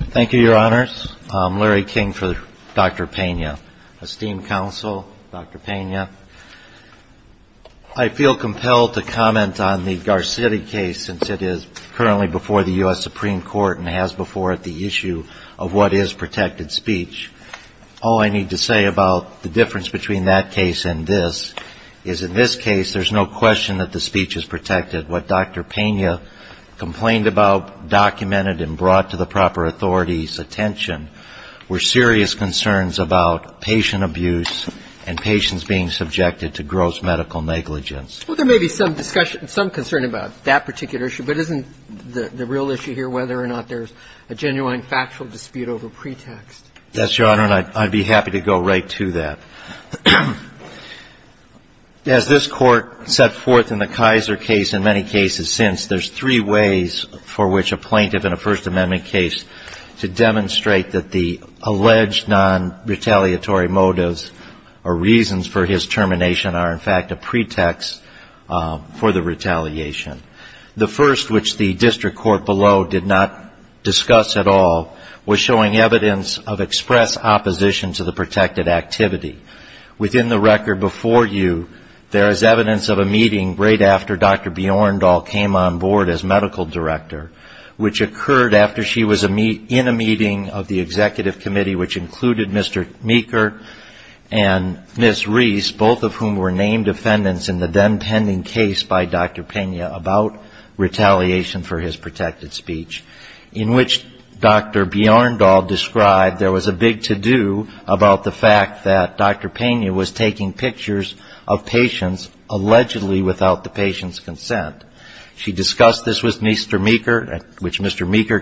Thank you, your honors. I'm Larry King for Dr. Pena. Esteemed counsel, Dr. Pena, I feel compelled to comment on the Garcetti case since it is currently before the U.S. Supreme Court and has before it the issue of what is protected speech. All I need to say about the difference between that case and this is in this case there's no question that the proper authority's attention were serious concerns about patient abuse and patients being subjected to gross medical negligence. Well, there may be some concern about that particular issue, but isn't the real issue here whether or not there's a genuine factual dispute over pretext? Yes, your honor, and I'd be happy to go right to that. As this Court set forth in the Kaiser case and many cases since, there's three ways for which a plaintiff in a First Amendment case to demonstrate that the alleged non-retaliatory motives or reasons for his termination are in fact a pretext for the retaliation. The first, which the district court below did not discuss at all, was showing evidence of express opposition to the protected activity. Within the record before you, there is evidence of a meeting right after Dr. Bjorndal came on board as medical director, which occurred after she was in a meeting of the executive committee, which included Mr. Meeker and Ms. Reese, both of whom were named defendants in the then pending case by Dr. Pena about retaliation for his protected speech, in which Dr. Bjorndal described there was a big to do about the fact that Dr. Pena was taking pictures of patients allegedly without the patient's consent. She discussed this with Mr. Meeker, which Mr. Meeker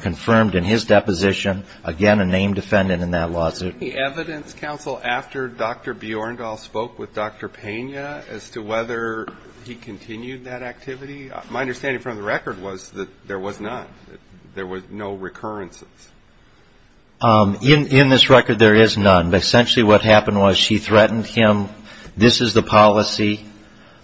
confirmed in his deposition. Again, a named defendant in that lawsuit. Any evidence, counsel, after Dr. Bjorndal spoke with Dr. Pena as to whether he continued that activity? My understanding from the record was that there was not. There were no recurrences. In this record, there is none, but essentially what happened was she threatened him, this is the policy,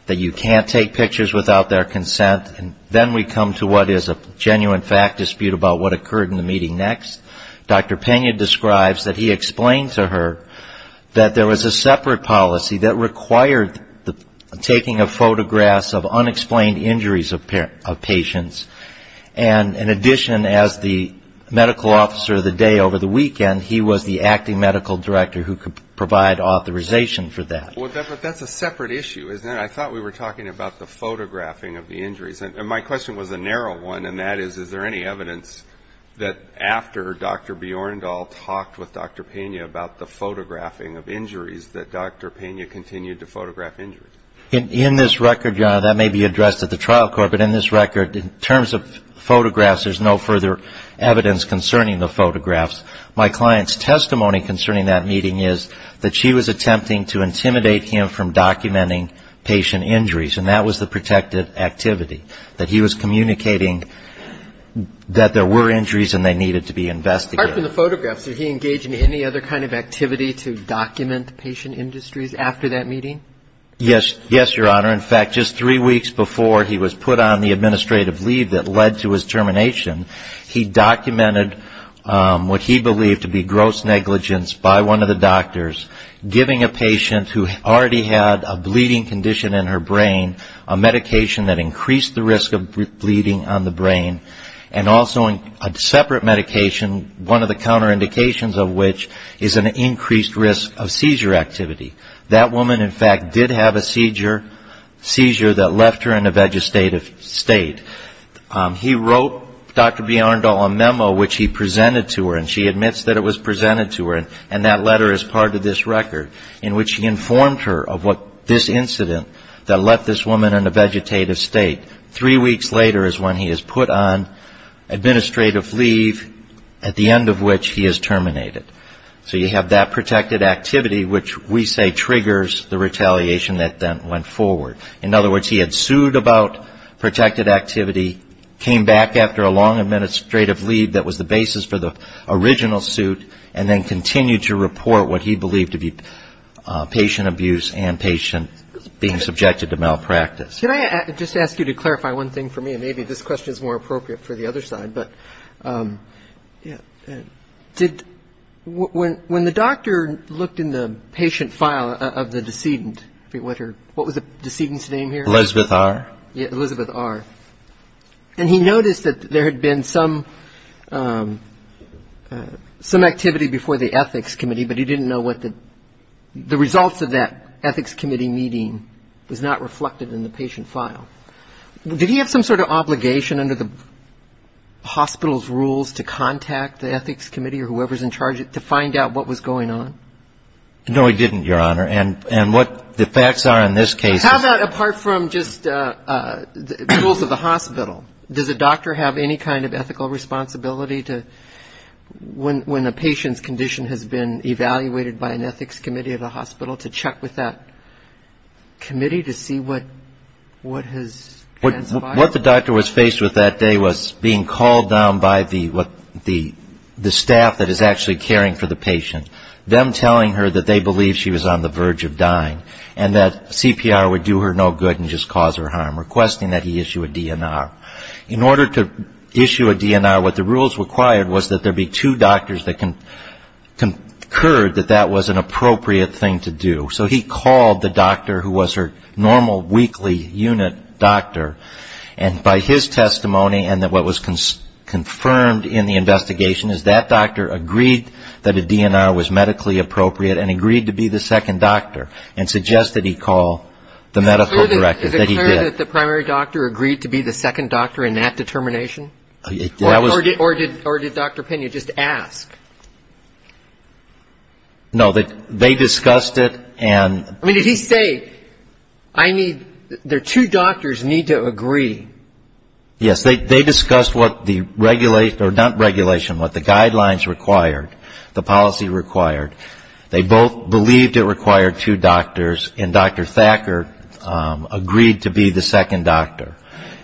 that you can't take pictures without their consent, and then we come to what is a genuine fact dispute about what occurred in the meeting next. Dr. Pena describes that he explained to her that there was a separate policy that required the taking of a photograph of the injuries. My question was a narrow one, and that is, is there any evidence that after Dr. Bjorndal talked with Dr. Pena about the photographing of injuries, that Dr. Pena continued to photograph injuries? In this record, that may be addressed at the next hearing. My client's testimony concerning that meeting is that she was attempting to intimidate him from documenting patient injuries, and that was the protected activity, that he was communicating that there were injuries and they needed to be investigated. Apart from the photographs, did he engage in any other kind of activity to document patient industries after that meeting? Yes, Your Honor. In fact, just three weeks before he was put on the administrative leave that led to his termination, he documented what he believed to be gross negligence by one of the doctors, giving a patient who already had a bleeding condition in her brain, a medication that increased the risk of bleeding on the brain, and also a separate medication, one of the counterindications of which is an increased risk of seizure activity. That woman, in fact, did have a seizure that left her in a vegetative state. He wrote Dr. Bjarndal a memo which he presented to her, and she admits that it was presented to her, and that letter is part of this record, in which he informed her of what this incident that left this woman in a vegetative state. Three weeks later is when he is put on administrative leave, at the end of which he is terminated. So you have that protected activity, which we say triggers the retaliation that then went forward. In other words, he had sued about protected activity, came back after a long administrative leave that was the basis for the original suit, and then continued to report what he believed to be patient abuse and patient being subjected to malpractice. Can I just ask you to clarify one thing for me, and maybe this question is more appropriate for the other side, but did – when the doctor looked in the patient file of the deceased decedent, what was the decedent's name here? Elizabeth R. Yeah, Elizabeth R. And he noticed that there had been some activity before the ethics committee, but he didn't know what the – the results of that ethics committee meeting was not reflected in the patient file. Did he have some sort of obligation under the hospital's rules to contact the ethics committee or whoever is in charge to find out what was going on? No, he didn't, Your Honor. And what the facts are in this case is – How about apart from just the rules of the hospital? Does a doctor have any kind of ethical responsibility to – when a patient's condition has been evaluated by an ethics committee of the hospital, to check with that committee to see what has – What the doctor was faced with that day was being called down by the – what the – the doctor was telling her that they believed she was on the verge of dying and that CPR would do her no good and just cause her harm, requesting that he issue a DNR. In order to issue a DNR, what the rules required was that there be two doctors that concurred that that was an appropriate thing to do. So he called the doctor who was her normal weekly unit doctor, and by his testimony and what was confirmed in the investigation is that doctor agreed that a DNR was medically appropriate and agreed to be the second doctor and suggested he call the medical director that he did. Is it clear that the primary doctor agreed to be the second doctor in that determination? That was – Or did – or did Dr. Pena just ask? No, they discussed it and – I mean, did he say, I need – there are two doctors need to agree? Yes, they discussed what the regulation – or not regulation, what the guidelines required, the policy required. They both believed it required two doctors, and Dr. Thacker agreed to be the second doctor.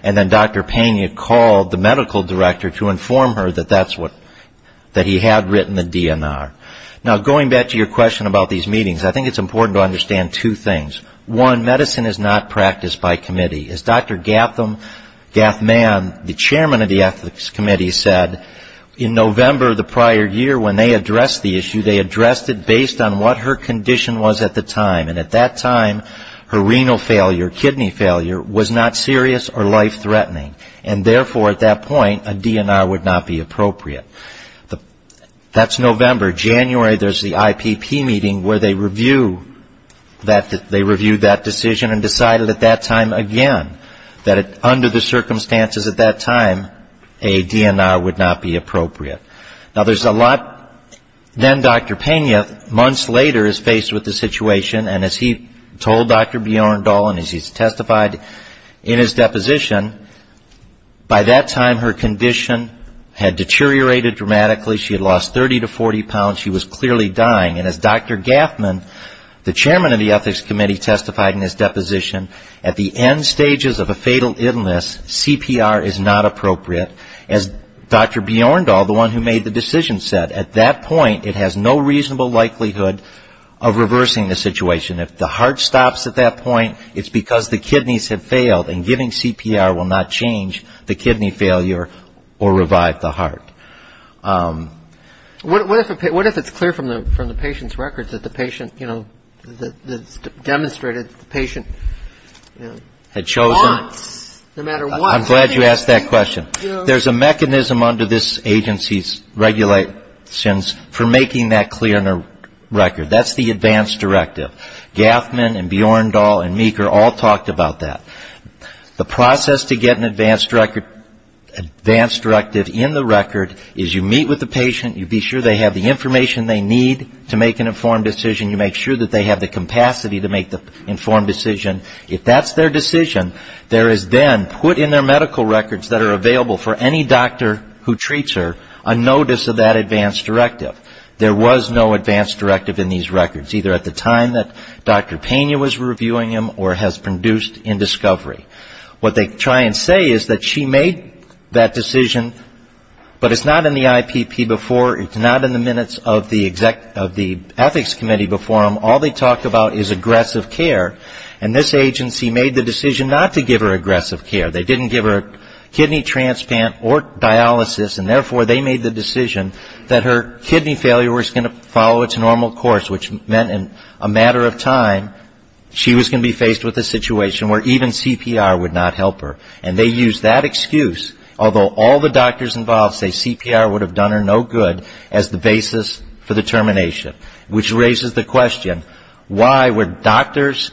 And then Dr. Pena called the medical director to inform her that that's what – that he had written the DNR. Now going back to your question about these meetings, I think it's important to understand two things. One, medicine is not practiced by committee. As Dr. Gathman, the chairman of the Ethics Committee said, in November the prior year when they addressed the issue, they addressed it based on what her condition was at the time, and at that time her renal failure, kidney failure, was not serious or life-threatening, and therefore at that point a DNR would not be appropriate. That's November. January there's the IPP meeting where they review that – they reviewed that decision and decided at that time again that under the circumstances at that time a DNR would not be appropriate. Now there's a lot – then Dr. Pena, months later, is faced with the situation, and as he told Dr. Bjorn Dahl and as he's testified in his deposition, by that time her condition had deteriorated dramatically. She had lost 30 to 40 pounds. She was clearly dying. And as Dr. Gathman, the chairman of the Ethics Committee testified in his deposition, at the end stages of a fatal illness, CPR is not appropriate. As Dr. Bjorn Dahl, the one who made the decision, said, at that point it has no reasonable likelihood of reversing the situation. If the heart stops at that point, it's because the kidneys have failed and giving CPR will not change the kidney failure or revive the heart. What if it's clear from the patient's records that the patient, you know, demonstrated that the patient had chosen – Once. No matter what. I'm glad you asked that question. There's a mechanism under this agency's regulations for making that clear in a record. That's the advance directive. Gathman and Bjorn Dahl and Meeker all talked about that. The process to get an advance directive in the record is you meet with the patient, you be sure they have the information they need to make an informed decision, you make sure that they have the capacity to make the informed decision. If that's their decision, there is then put in their medical records that are available for any doctor who treats her, a notice of that advance directive. There was no advance directive in these records, either at the time that Dr. Pena was reviewing them or has produced in discovery. What they try and say is that she made that decision, but it's not in the IPP before, it's not in the minutes of the Ethics Committee before them. All they talk about is aggressive care, and this agency made the decision not to give her aggressive care. They didn't give her kidney transplant or dialysis, and therefore they made the decision that her kidney failure was going to follow its normal course, which meant in a matter of time she was going to be faced with a situation where even CPR would not help her. And they used that excuse, although all the doctors involved say CPR would have done her no good, as the basis for the termination, which raises the question, why would doctors,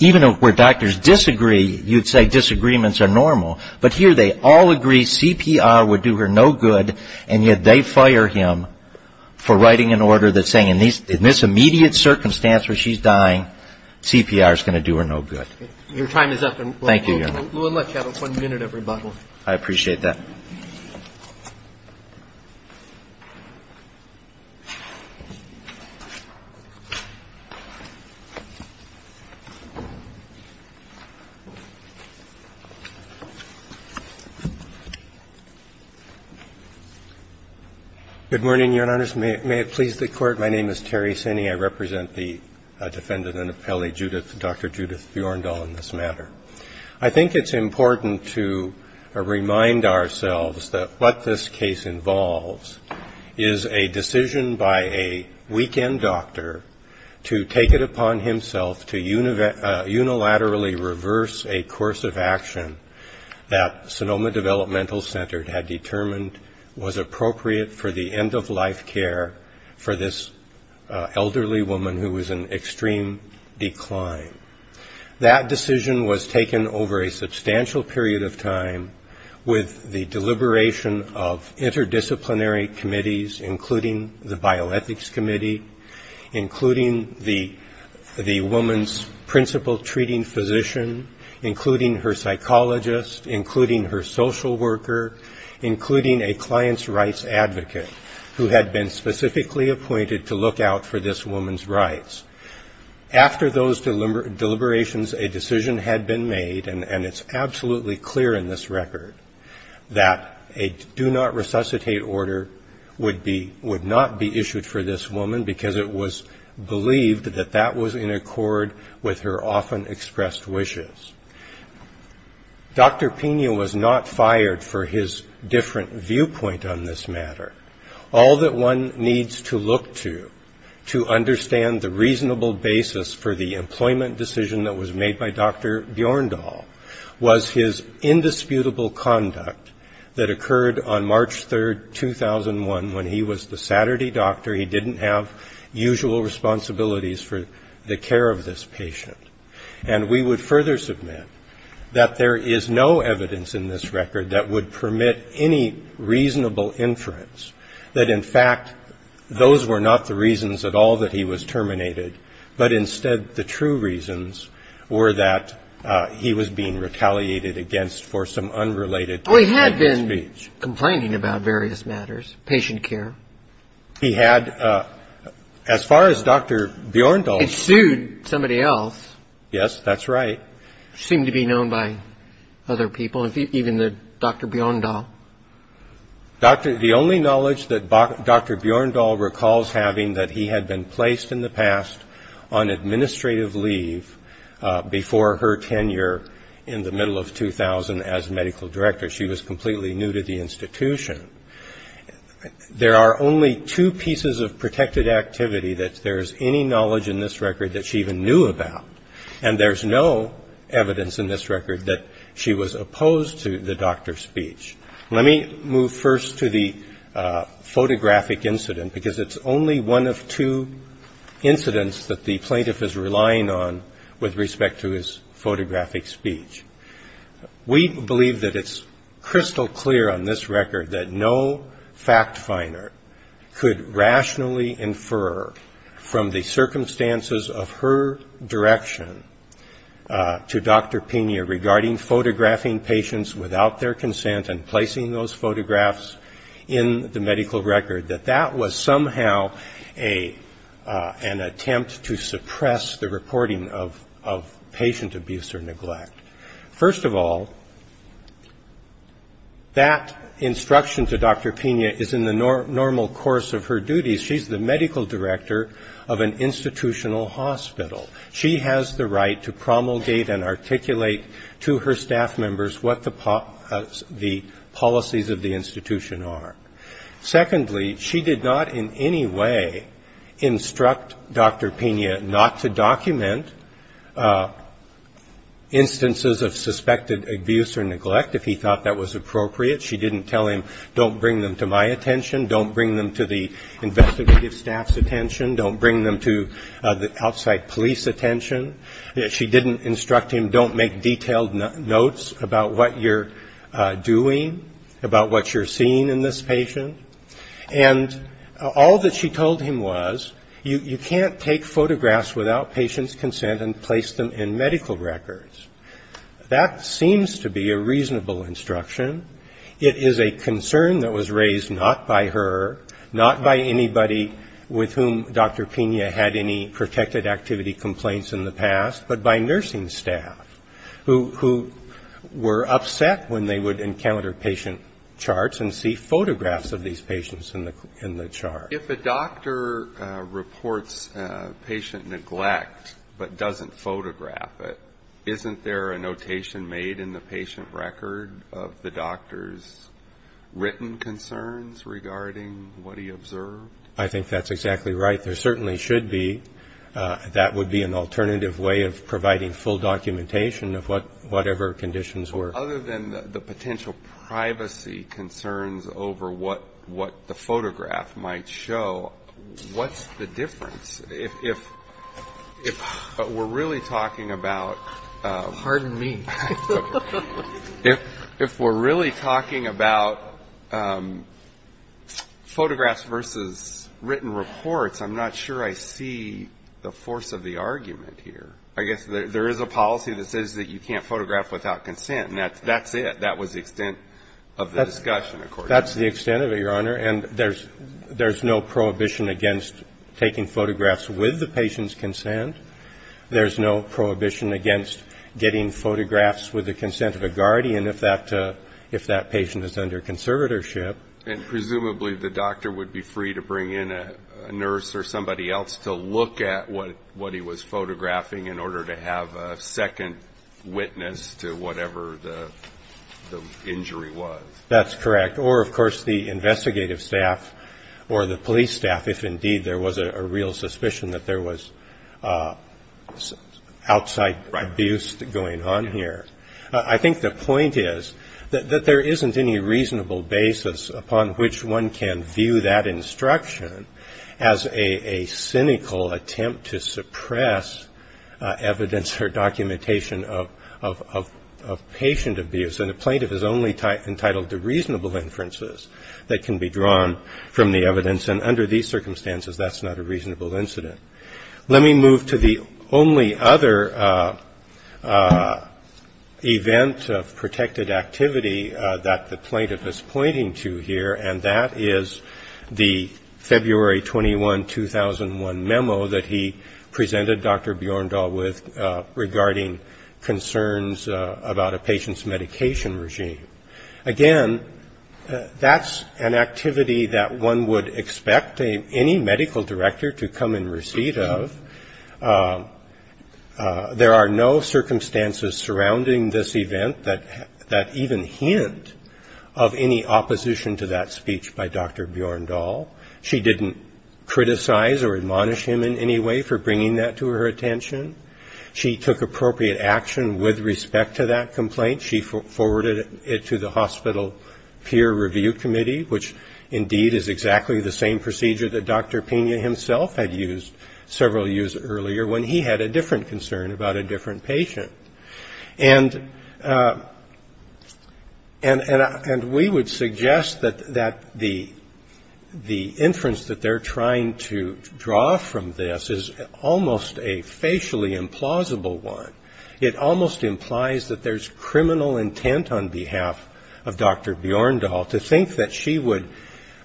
even where doctors disagree, you'd say disagreements are normal, but here they all agree CPR would do her no good, and yet they fire him for writing an order that's saying in this immediate circumstance where she's dying, CPR is going to do her no good. Your time is up. Thank you, Your Honor. We'll let you have one minute of rebuttal. I appreciate that. My name is Terry Sinney. I represent the defendant and appellee, Dr. Judith Bjorndal, in this matter. I think it's important to remind ourselves that what this case involves is a decision by a weekend doctor to take it upon himself to unilaterally reverse a course of action that Sonoma Developmental Center had determined was appropriate for the end-of-life care for this elderly woman who was in extreme decline. That decision was taken over a substantial period of time with the deliberation of interdisciplinary committees, including the Bioethics Committee, including the woman's principal treating physician, including her psychologist, including her this woman's rights. After those deliberations, a decision had been made, and it's absolutely clear in this record, that a do-not-resuscitate order would not be issued for this woman because it was believed that that was in accord with her often expressed wishes. Dr. Pena was not to understand the reasonable basis for the employment decision that was made by Dr. Bjorndal was his indisputable conduct that occurred on March 3, 2001, when he was the Saturday doctor. He didn't have usual responsibilities for the care of this patient. And we would further submit that there is no evidence in this record that would permit any reasonable inference, that in fact, those were not the reasons at all that he was terminated, but instead the true reasons were that he was being retaliated against for some unrelated speech. Well, he had been complaining about various matters, patient care. He had. As far as Dr. Bjorndal is concerned. He sued somebody else. Yes, that's right. Seemed to be known by other people, even Dr. Bjorndal. The only knowledge that Dr. Bjorndal recalls having that he had been placed in the past on administrative leave before her tenure in the middle of 2000 as medical director. She was completely new to the institution. There are only two pieces of protected activity that there's any knowledge in this record that she even knew about. And there's no evidence in this record that she was opposed to the doctor's speech. Let me move first to the photographic incident, because it's only one of two incidents that the plaintiff is relying on with respect to his photographic speech. We believe that it's crystal clear on this record that no fact finder could regarding photographing patients without their consent and placing those photographs in the medical record, that that was somehow an attempt to suppress the reporting of patient abuse or neglect. First of all, that instruction to Dr. Pena is in the normal course of her duties. She's the medical what the policies of the institution are. Secondly, she did not in any way instruct Dr. Pena not to document instances of suspected abuse or neglect if he thought that was appropriate. She didn't tell him, don't bring them to my attention, don't bring them to the investigative staff's attention, don't bring them outside police attention. She didn't instruct him, don't make detailed notes about what you're doing, about what you're seeing in this patient. And all that she told him was, you can't take photographs without patient's consent and place them in medical records. That seems to be a reasonable instruction. It is a concern that was had any protected activity complaints in the past, but by nursing staff who were upset when they would encounter patient charts and see photographs of these patients in the chart. If a doctor reports patient neglect but doesn't photograph it, isn't there a notation made in the patient record of the doctor's written concerns regarding what he observed? I think that's exactly right. There certainly should be. That would be an alternative way of providing full documentation of whatever conditions were. Other than the potential privacy concerns over what the photograph might show, what's the difference? If we're really talking about... Pardon me. If we're really talking about photographs versus written reports, I'm not sure I see the force of the argument here. I guess there is a policy that says that you can't photograph without consent, and that's it. That was the extent of the discussion, of course. That's the extent of it, Your Honor, and there's no prohibition against taking photographs with the patient's consent. There's no prohibition against getting photographs with the consent of a guardian if that patient is under conservatorship. And presumably the doctor would be free to bring in a nurse or somebody else to look at what he was photographing in order to have a second witness to whatever the injury was. That's correct. Or, of course, the investigative staff or the police staff, if indeed there was a real suspicion that there was a outside abuse going on here, I think the point is that there isn't any reasonable basis upon which one can view that instruction as a cynical attempt to suppress evidence or documentation of patient abuse. And a plaintiff is only entitled to reasonable inferences that can be drawn from the evidence, and under these circumstances that's not a reasonable incident. Let me move to the only other event of protected activity that the plaintiff is pointing to here, and that is the February 21, 2001 memo that he presented Dr. Bjorndal with regarding concerns about a patient's medication regime. Again, that's an activity that one would expect any medical director to come in receipt of. There are no circumstances surrounding this event that even hint of any opposition to that speech by Dr. Bjorndal. She didn't criticize or admonish him in any way for bringing that to her attention. She took appropriate action with respect to that complaint. She forwarded it to the hospital peer review committee, which indeed is exactly the same procedure that Dr. Pena himself had used several years earlier, when he had a different concern about a different patient. And we would suggest that the inference that they're trying to draw from this is almost a facial expression, a totally implausible one. It almost implies that there's criminal intent on behalf of Dr. Bjorndal to think that she would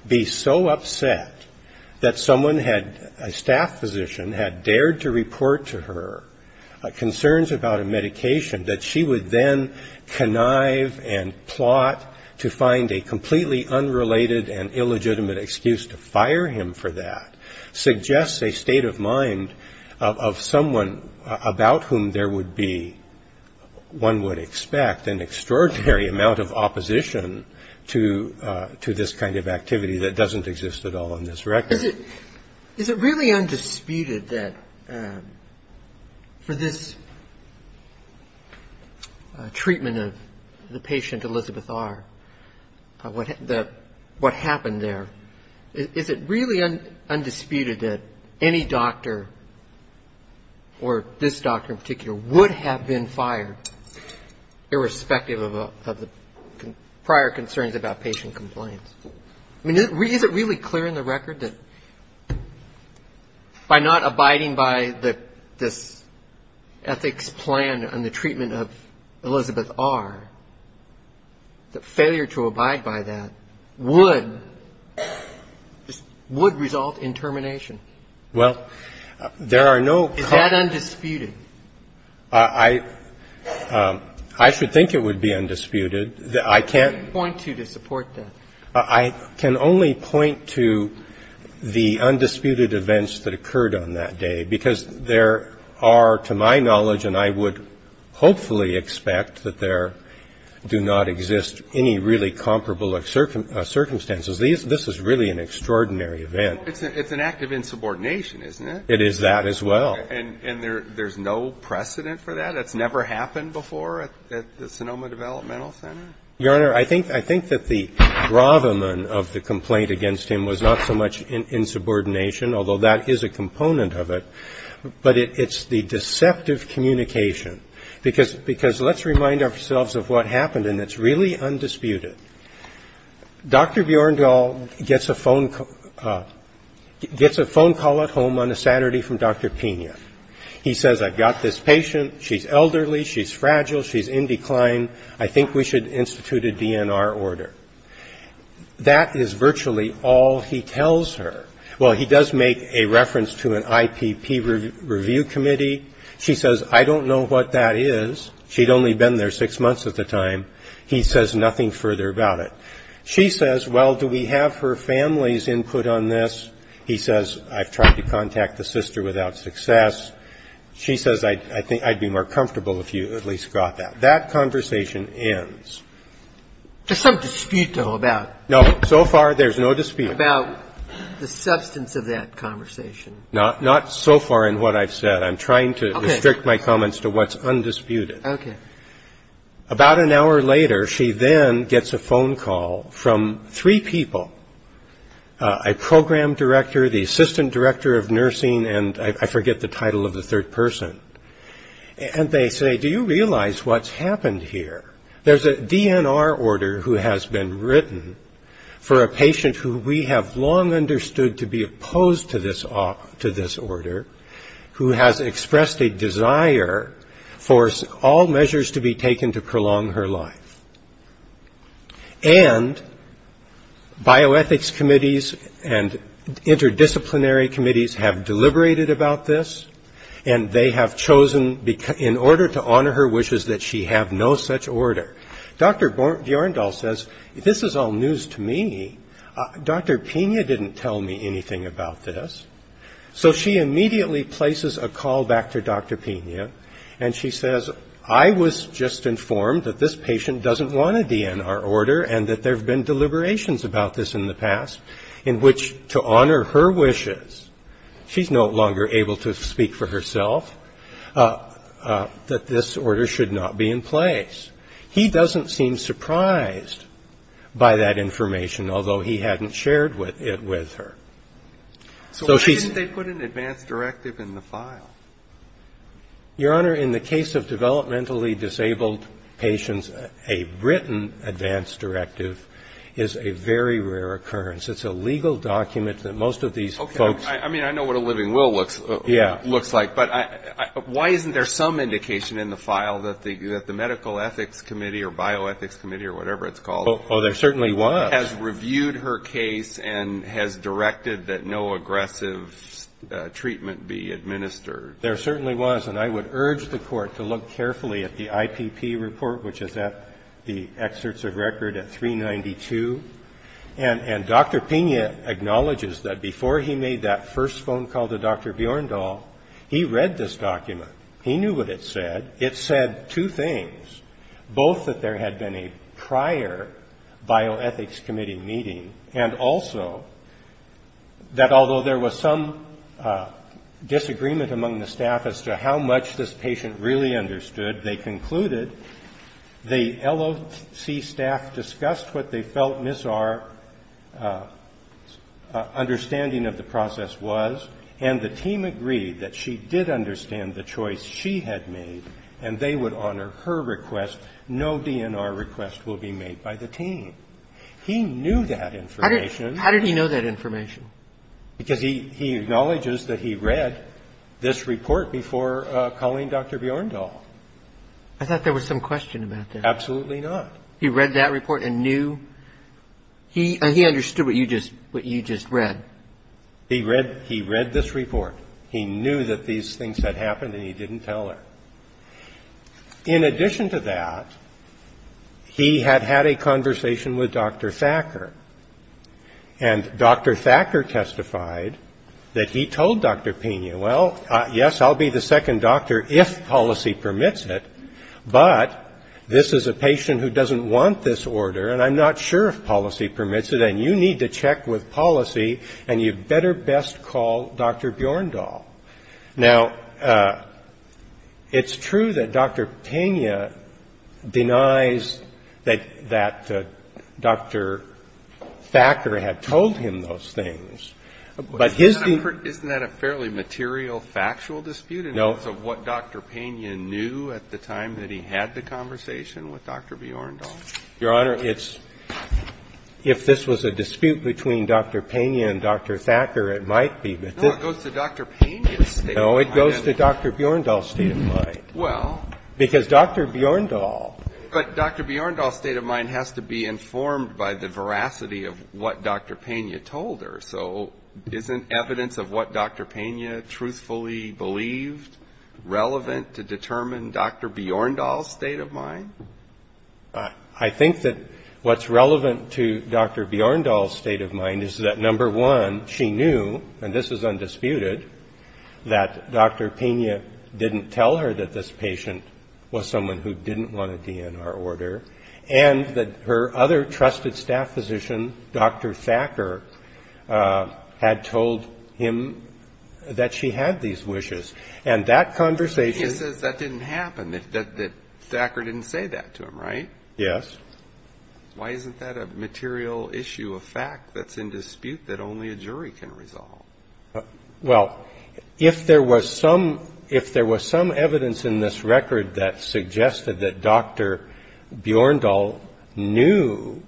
be so upset that someone had, a staff physician, had dared to report to her concerns about a medication that she would then connive and plot to find a completely unrelated and illegitimate excuse to fire him for that. It suggests a state of mind of someone about whom there would be, one would expect, an extraordinary amount of opposition to this kind of activity that doesn't exist at all on this record. Is it really undisputed that for this treatment of the patient, Elizabeth R., what happened there? Is it really undisputed that any doctor, or this doctor in particular, would have been fired, irrespective of the prior concerns about patient compliance? I mean, is it really clear in the record that by not abiding by this ethics plan on the treatment of Elizabeth R., the failure to abide by that would, would result in termination? Is that undisputed? I should think it would be undisputed. I can only point to the undisputed events that occurred on that day, because there are, to my knowledge, and I would hopefully expect that there do not exist any really comparable circumstances. This is really an extraordinary event. It's an act of insubordination, isn't it? It is that as well. And there's no precedent for that? That's never happened before at the Sonoma Developmental Center? Your Honor, I think that the bravamen of the complaint against him was not so much insubordination, although that is a component of it, but it's the deceptive communication. Because let's remind ourselves of what happened, and it's really undisputed. Dr. Bjørndahl gets a phone call at home on a Saturday from Dr. Pena. He says, I've got this patient, she's elderly, she's fragile, she's in decline, I think we should institute a DNR order. That is virtually all he tells her. Well, he does make a reference to an IPP review committee. She says, I don't know what that is, she'd only been there six months at the time, he says nothing further about it. She says, well, do we have her family's input on this? He says, I've tried to contact the sister without success. She says, I'd be more comfortable if you at least got that. That conversation ends. So far, there's no dispute about the substance of that conversation. Not so far in what I've said, I'm trying to restrict my comments to what's undisputed. About an hour later, she then gets a phone call from three people, a program director, the assistant director of nursing, and I forget the title of the third person. And they say, do you realize what's happened here? There's a DNR order who has been written for a patient who we have long understood to be opposed to this order, who has expressed a desire for all measures to be taken to prolong her life. And bioethics committees and interdisciplinary committees have deliberated about this, and they have chosen to do so. They have chosen, in order to honor her wishes, that she have no such order. Dr. Bjorndahl says, this is all news to me. Dr. Pena didn't tell me anything about this. So she immediately places a call back to Dr. Pena, and she says, I was just informed that this patient doesn't want a DNR order, and that there have been deliberations about this in the past, in which to honor her wishes. She's no longer able to speak for herself, that this order should not be in place. He doesn't seem surprised by that information, although he hadn't shared it with her. So she's So why didn't they put an advance directive in the file? Your Honor, in the case of developmentally disabled patients, a written advance directive is a very rare occurrence. It's a legal document that most of these folks Okay, I mean, I know what a living will looks like. But why isn't there some indication in the file that the medical ethics committee, or bioethics committee, or whatever it's called, has reviewed her case and has directed that no aggressive treatment be administered? There certainly was, and I would urge the Court to look carefully at the IPP report, which is at the excerpts of record at 392. And Dr. Pena acknowledges that before he made that first phone call to Dr. Bjorndal, he read this document. He knew what it said. It said two things, both that there had been a prior bioethics committee meeting, and also that although there was some disagreement among the staff as to how much this patient really understood, they concluded the LOC staff discussed what they felt Ms. R's understanding of the process was, and the team agreed that she did understand the choice she had made, and they would honor her request. No DNR request will be made by the team. He knew that information. How did he know that information? Because he acknowledges that he read this report before calling Dr. Bjorndal. I thought there was some question about that. Absolutely not. He read that report and knew, he understood what you just read. He read this report. He knew that these things had happened, and he didn't tell her. In addition to that, he had had a conversation with Dr. Thacker, and Dr. Thacker testified that he told Dr. Pena, well, yes, I'll be the second doctor if policy permits it, but this is a patient who doesn't want this order, and I'm not sure if policy permits it, and you need to check with policy, and you better best call Dr. Bjorndal. Now, it's true that Dr. Pena denies that Dr. Thacker had told him those things, but his... No. Your Honor, it's, if this was a dispute between Dr. Pena and Dr. Thacker, it might be, but this... No, it goes to Dr. Pena's state of mind. No, it goes to Dr. Bjorndal's state of mind, because Dr. Bjorndal... But Dr. Bjorndal's state of mind has to be informed by the veracity of what Dr. Pena told her. So isn't evidence of what Dr. Pena truthfully believed relevant to determine Dr. Bjorndal's state of mind? I think that what's relevant to Dr. Bjorndal's state of mind is that, number one, she knew, and this is undisputed, that Dr. Pena didn't tell her that this patient was someone who didn't want a DNR order, and that her other trusted staff physician, Dr. Thacker, had told him that she had these wishes, and that conversation... He says that didn't happen, that Thacker didn't say that to him, right? Yes. Why isn't that a material issue, a fact that's in dispute that only a jury can resolve? Well, if there was some evidence in this record that suggested that Dr. Bjorndal knew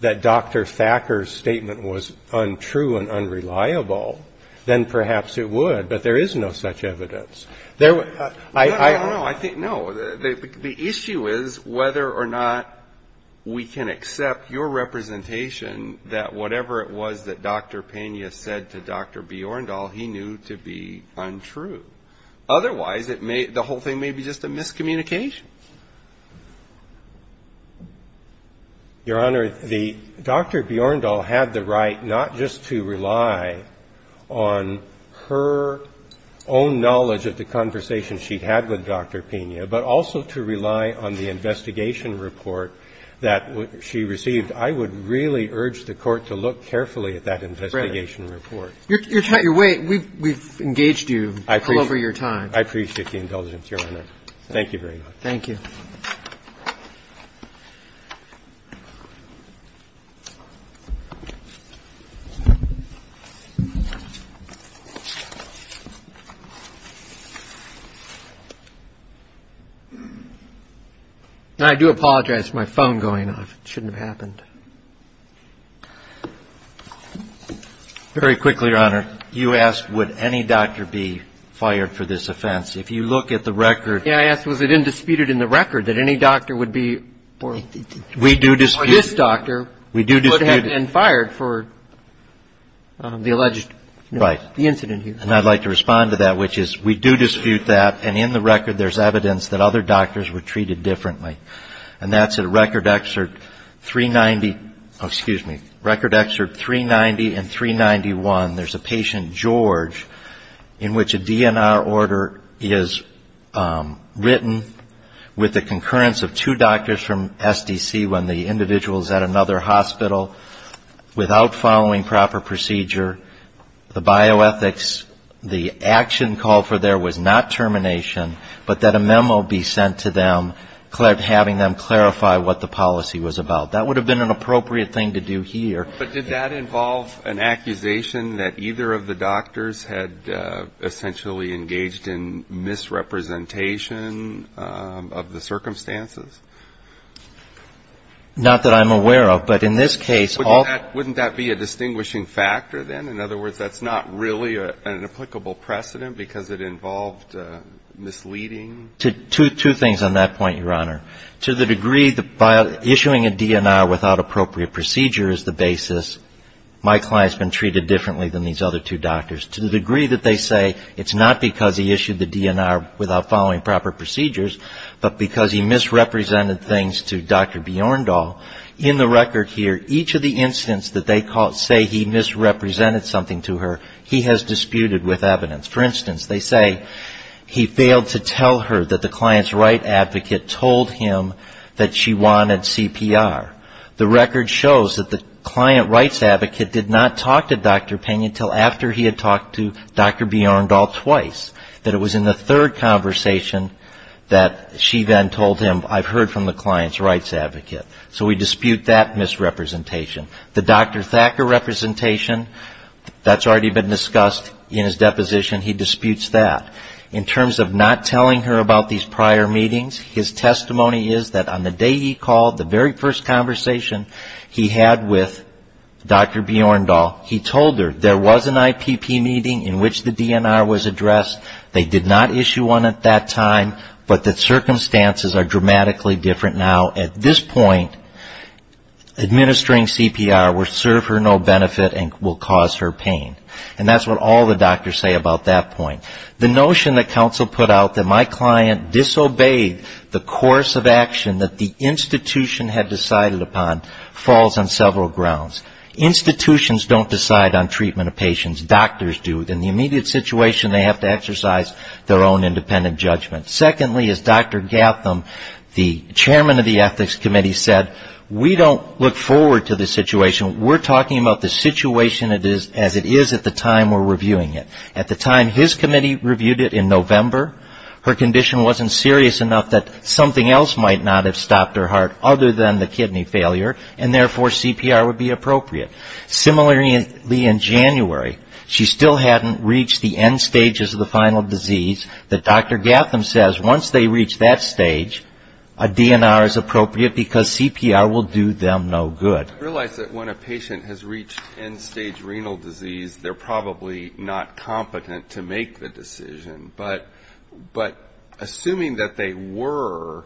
that Dr. Thacker's statement was untrue and unreliable, then perhaps it would, but there is no such evidence. No, the issue is whether or not we can accept your representation that whatever it was that Dr. Pena said to Dr. Thacker, Dr. Bjorndal, he knew to be untrue. Otherwise, the whole thing may be just a miscommunication. Your Honor, Dr. Bjorndal had the right not just to rely on her own knowledge of the conversation she'd had with Dr. Pena, but also to rely on the investigation report that she received. And I would really urge the Court to look carefully at that investigation report. Your way, we've engaged you all over your time. I appreciate the indulgence, Your Honor. Thank you very much. Thank you. I do apologize for my phone going off. It shouldn't have happened. Very quickly, Your Honor, you asked would any doctor be fired for this offense. If you look at the record. We do dispute that. And I'd like to respond to that, which is we do dispute that, and in the record there's evidence that other doctors were treated differently, and that's in Record Excerpt 390 and 391. There's a patient, George, in which a DNR order is written with the concurrence of two doctors from SDC when the individual is at another hospital without following proper procedure, the bioethics, the action called for there was not termination, but that a memo be sent to them having them clarify what the policy was about. That would have been an appropriate thing to do here. But did that involve an accusation that either of the doctors had essentially engaged in misrepresentation of the circumstances? Not that I'm aware of, but in this case all of them. Wouldn't that be a distinguishing factor then? In other words, that's not really an applicable precedent because it involved misleading? The DNR without appropriate procedure is the basis. My client's been treated differently than these other two doctors, to the degree that they say it's not because he issued the DNR without following proper procedures, but because he misrepresented things to Dr. Bjorndal. In the record here, each of the incidents that they say he misrepresented something to her, he has disputed with evidence. For instance, they say he failed to tell her that the client's right advocate told him that she wanted CPR. The record shows that the client rights advocate did not talk to Dr. Pena until after he had talked to Dr. Bjorndal twice, that it was in the third conversation that she then told him, I've heard from the client's rights advocate. So we dispute that misrepresentation. The Dr. Thacker representation, that's already been discussed in his deposition, he disputes that. In terms of not telling her about these prior meetings, his testimony is that on the day he called, the very first conversation he had with Dr. Bjorndal, he told her there was an IPP meeting in which the DNR was addressed. They did not issue one at that time, but the circumstances are dramatically different now. At this point, administering CPR will serve her no benefit and will cause her pain. And that's what all the doctors say about that point. The notion that counsel put out that my client disobeyed the course of action that the institution had decided upon falls on several grounds. Institutions don't decide on treatment of patients. Doctors do. In the immediate situation, they have to exercise their own independent judgment. Secondly, as Dr. Gatham, the chairman of the Ethics Committee, said, we don't look forward to the situation. We're talking about the situation as it is at the time we're reviewing it. At the time his committee reviewed it in November, her condition wasn't serious enough that something else might not have stopped her heart other than the kidney failure, and therefore CPR would be appropriate. Similarly, in January, she still hadn't reached the end stages of the final disease that Dr. Gatham said would be appropriate. He says once they reach that stage, a DNR is appropriate because CPR will do them no good. I realize that when a patient has reached end stage renal disease, they're probably not competent to make the decision. But assuming that they were,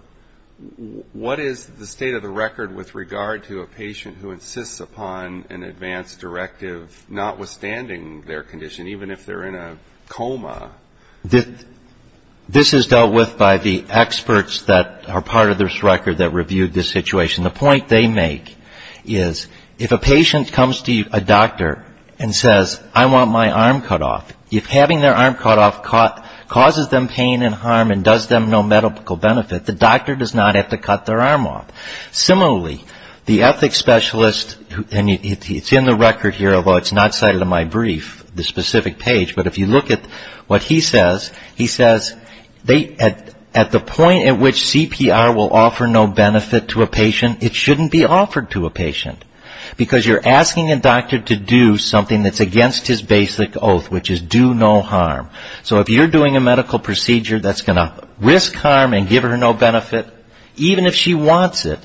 what is the state of the record with regard to a patient who insists upon an advanced directive notwithstanding their condition, even if they're in a coma? This is dealt with by the experts that are part of this record that reviewed this situation. The point they make is if a patient comes to a doctor and says, I want my arm cut off, if having their arm cut off causes them pain and harm and does them no medical benefit, the doctor does not have to cut their arm off. Similarly, the ethics specialist, and it's in the record here, although it's not cited in my brief, the specific page, but if you look at what the doctor says, what he says, he says at the point at which CPR will offer no benefit to a patient, it shouldn't be offered to a patient. Because you're asking a doctor to do something that's against his basic oath, which is do no harm. So if you're doing a medical procedure that's going to risk harm and give her no benefit, even if she wants it,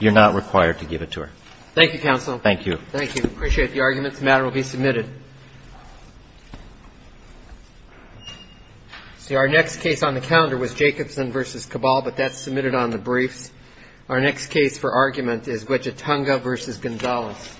you're not required to give it to her. Thank you, counsel. Thank you. Appreciate the arguments.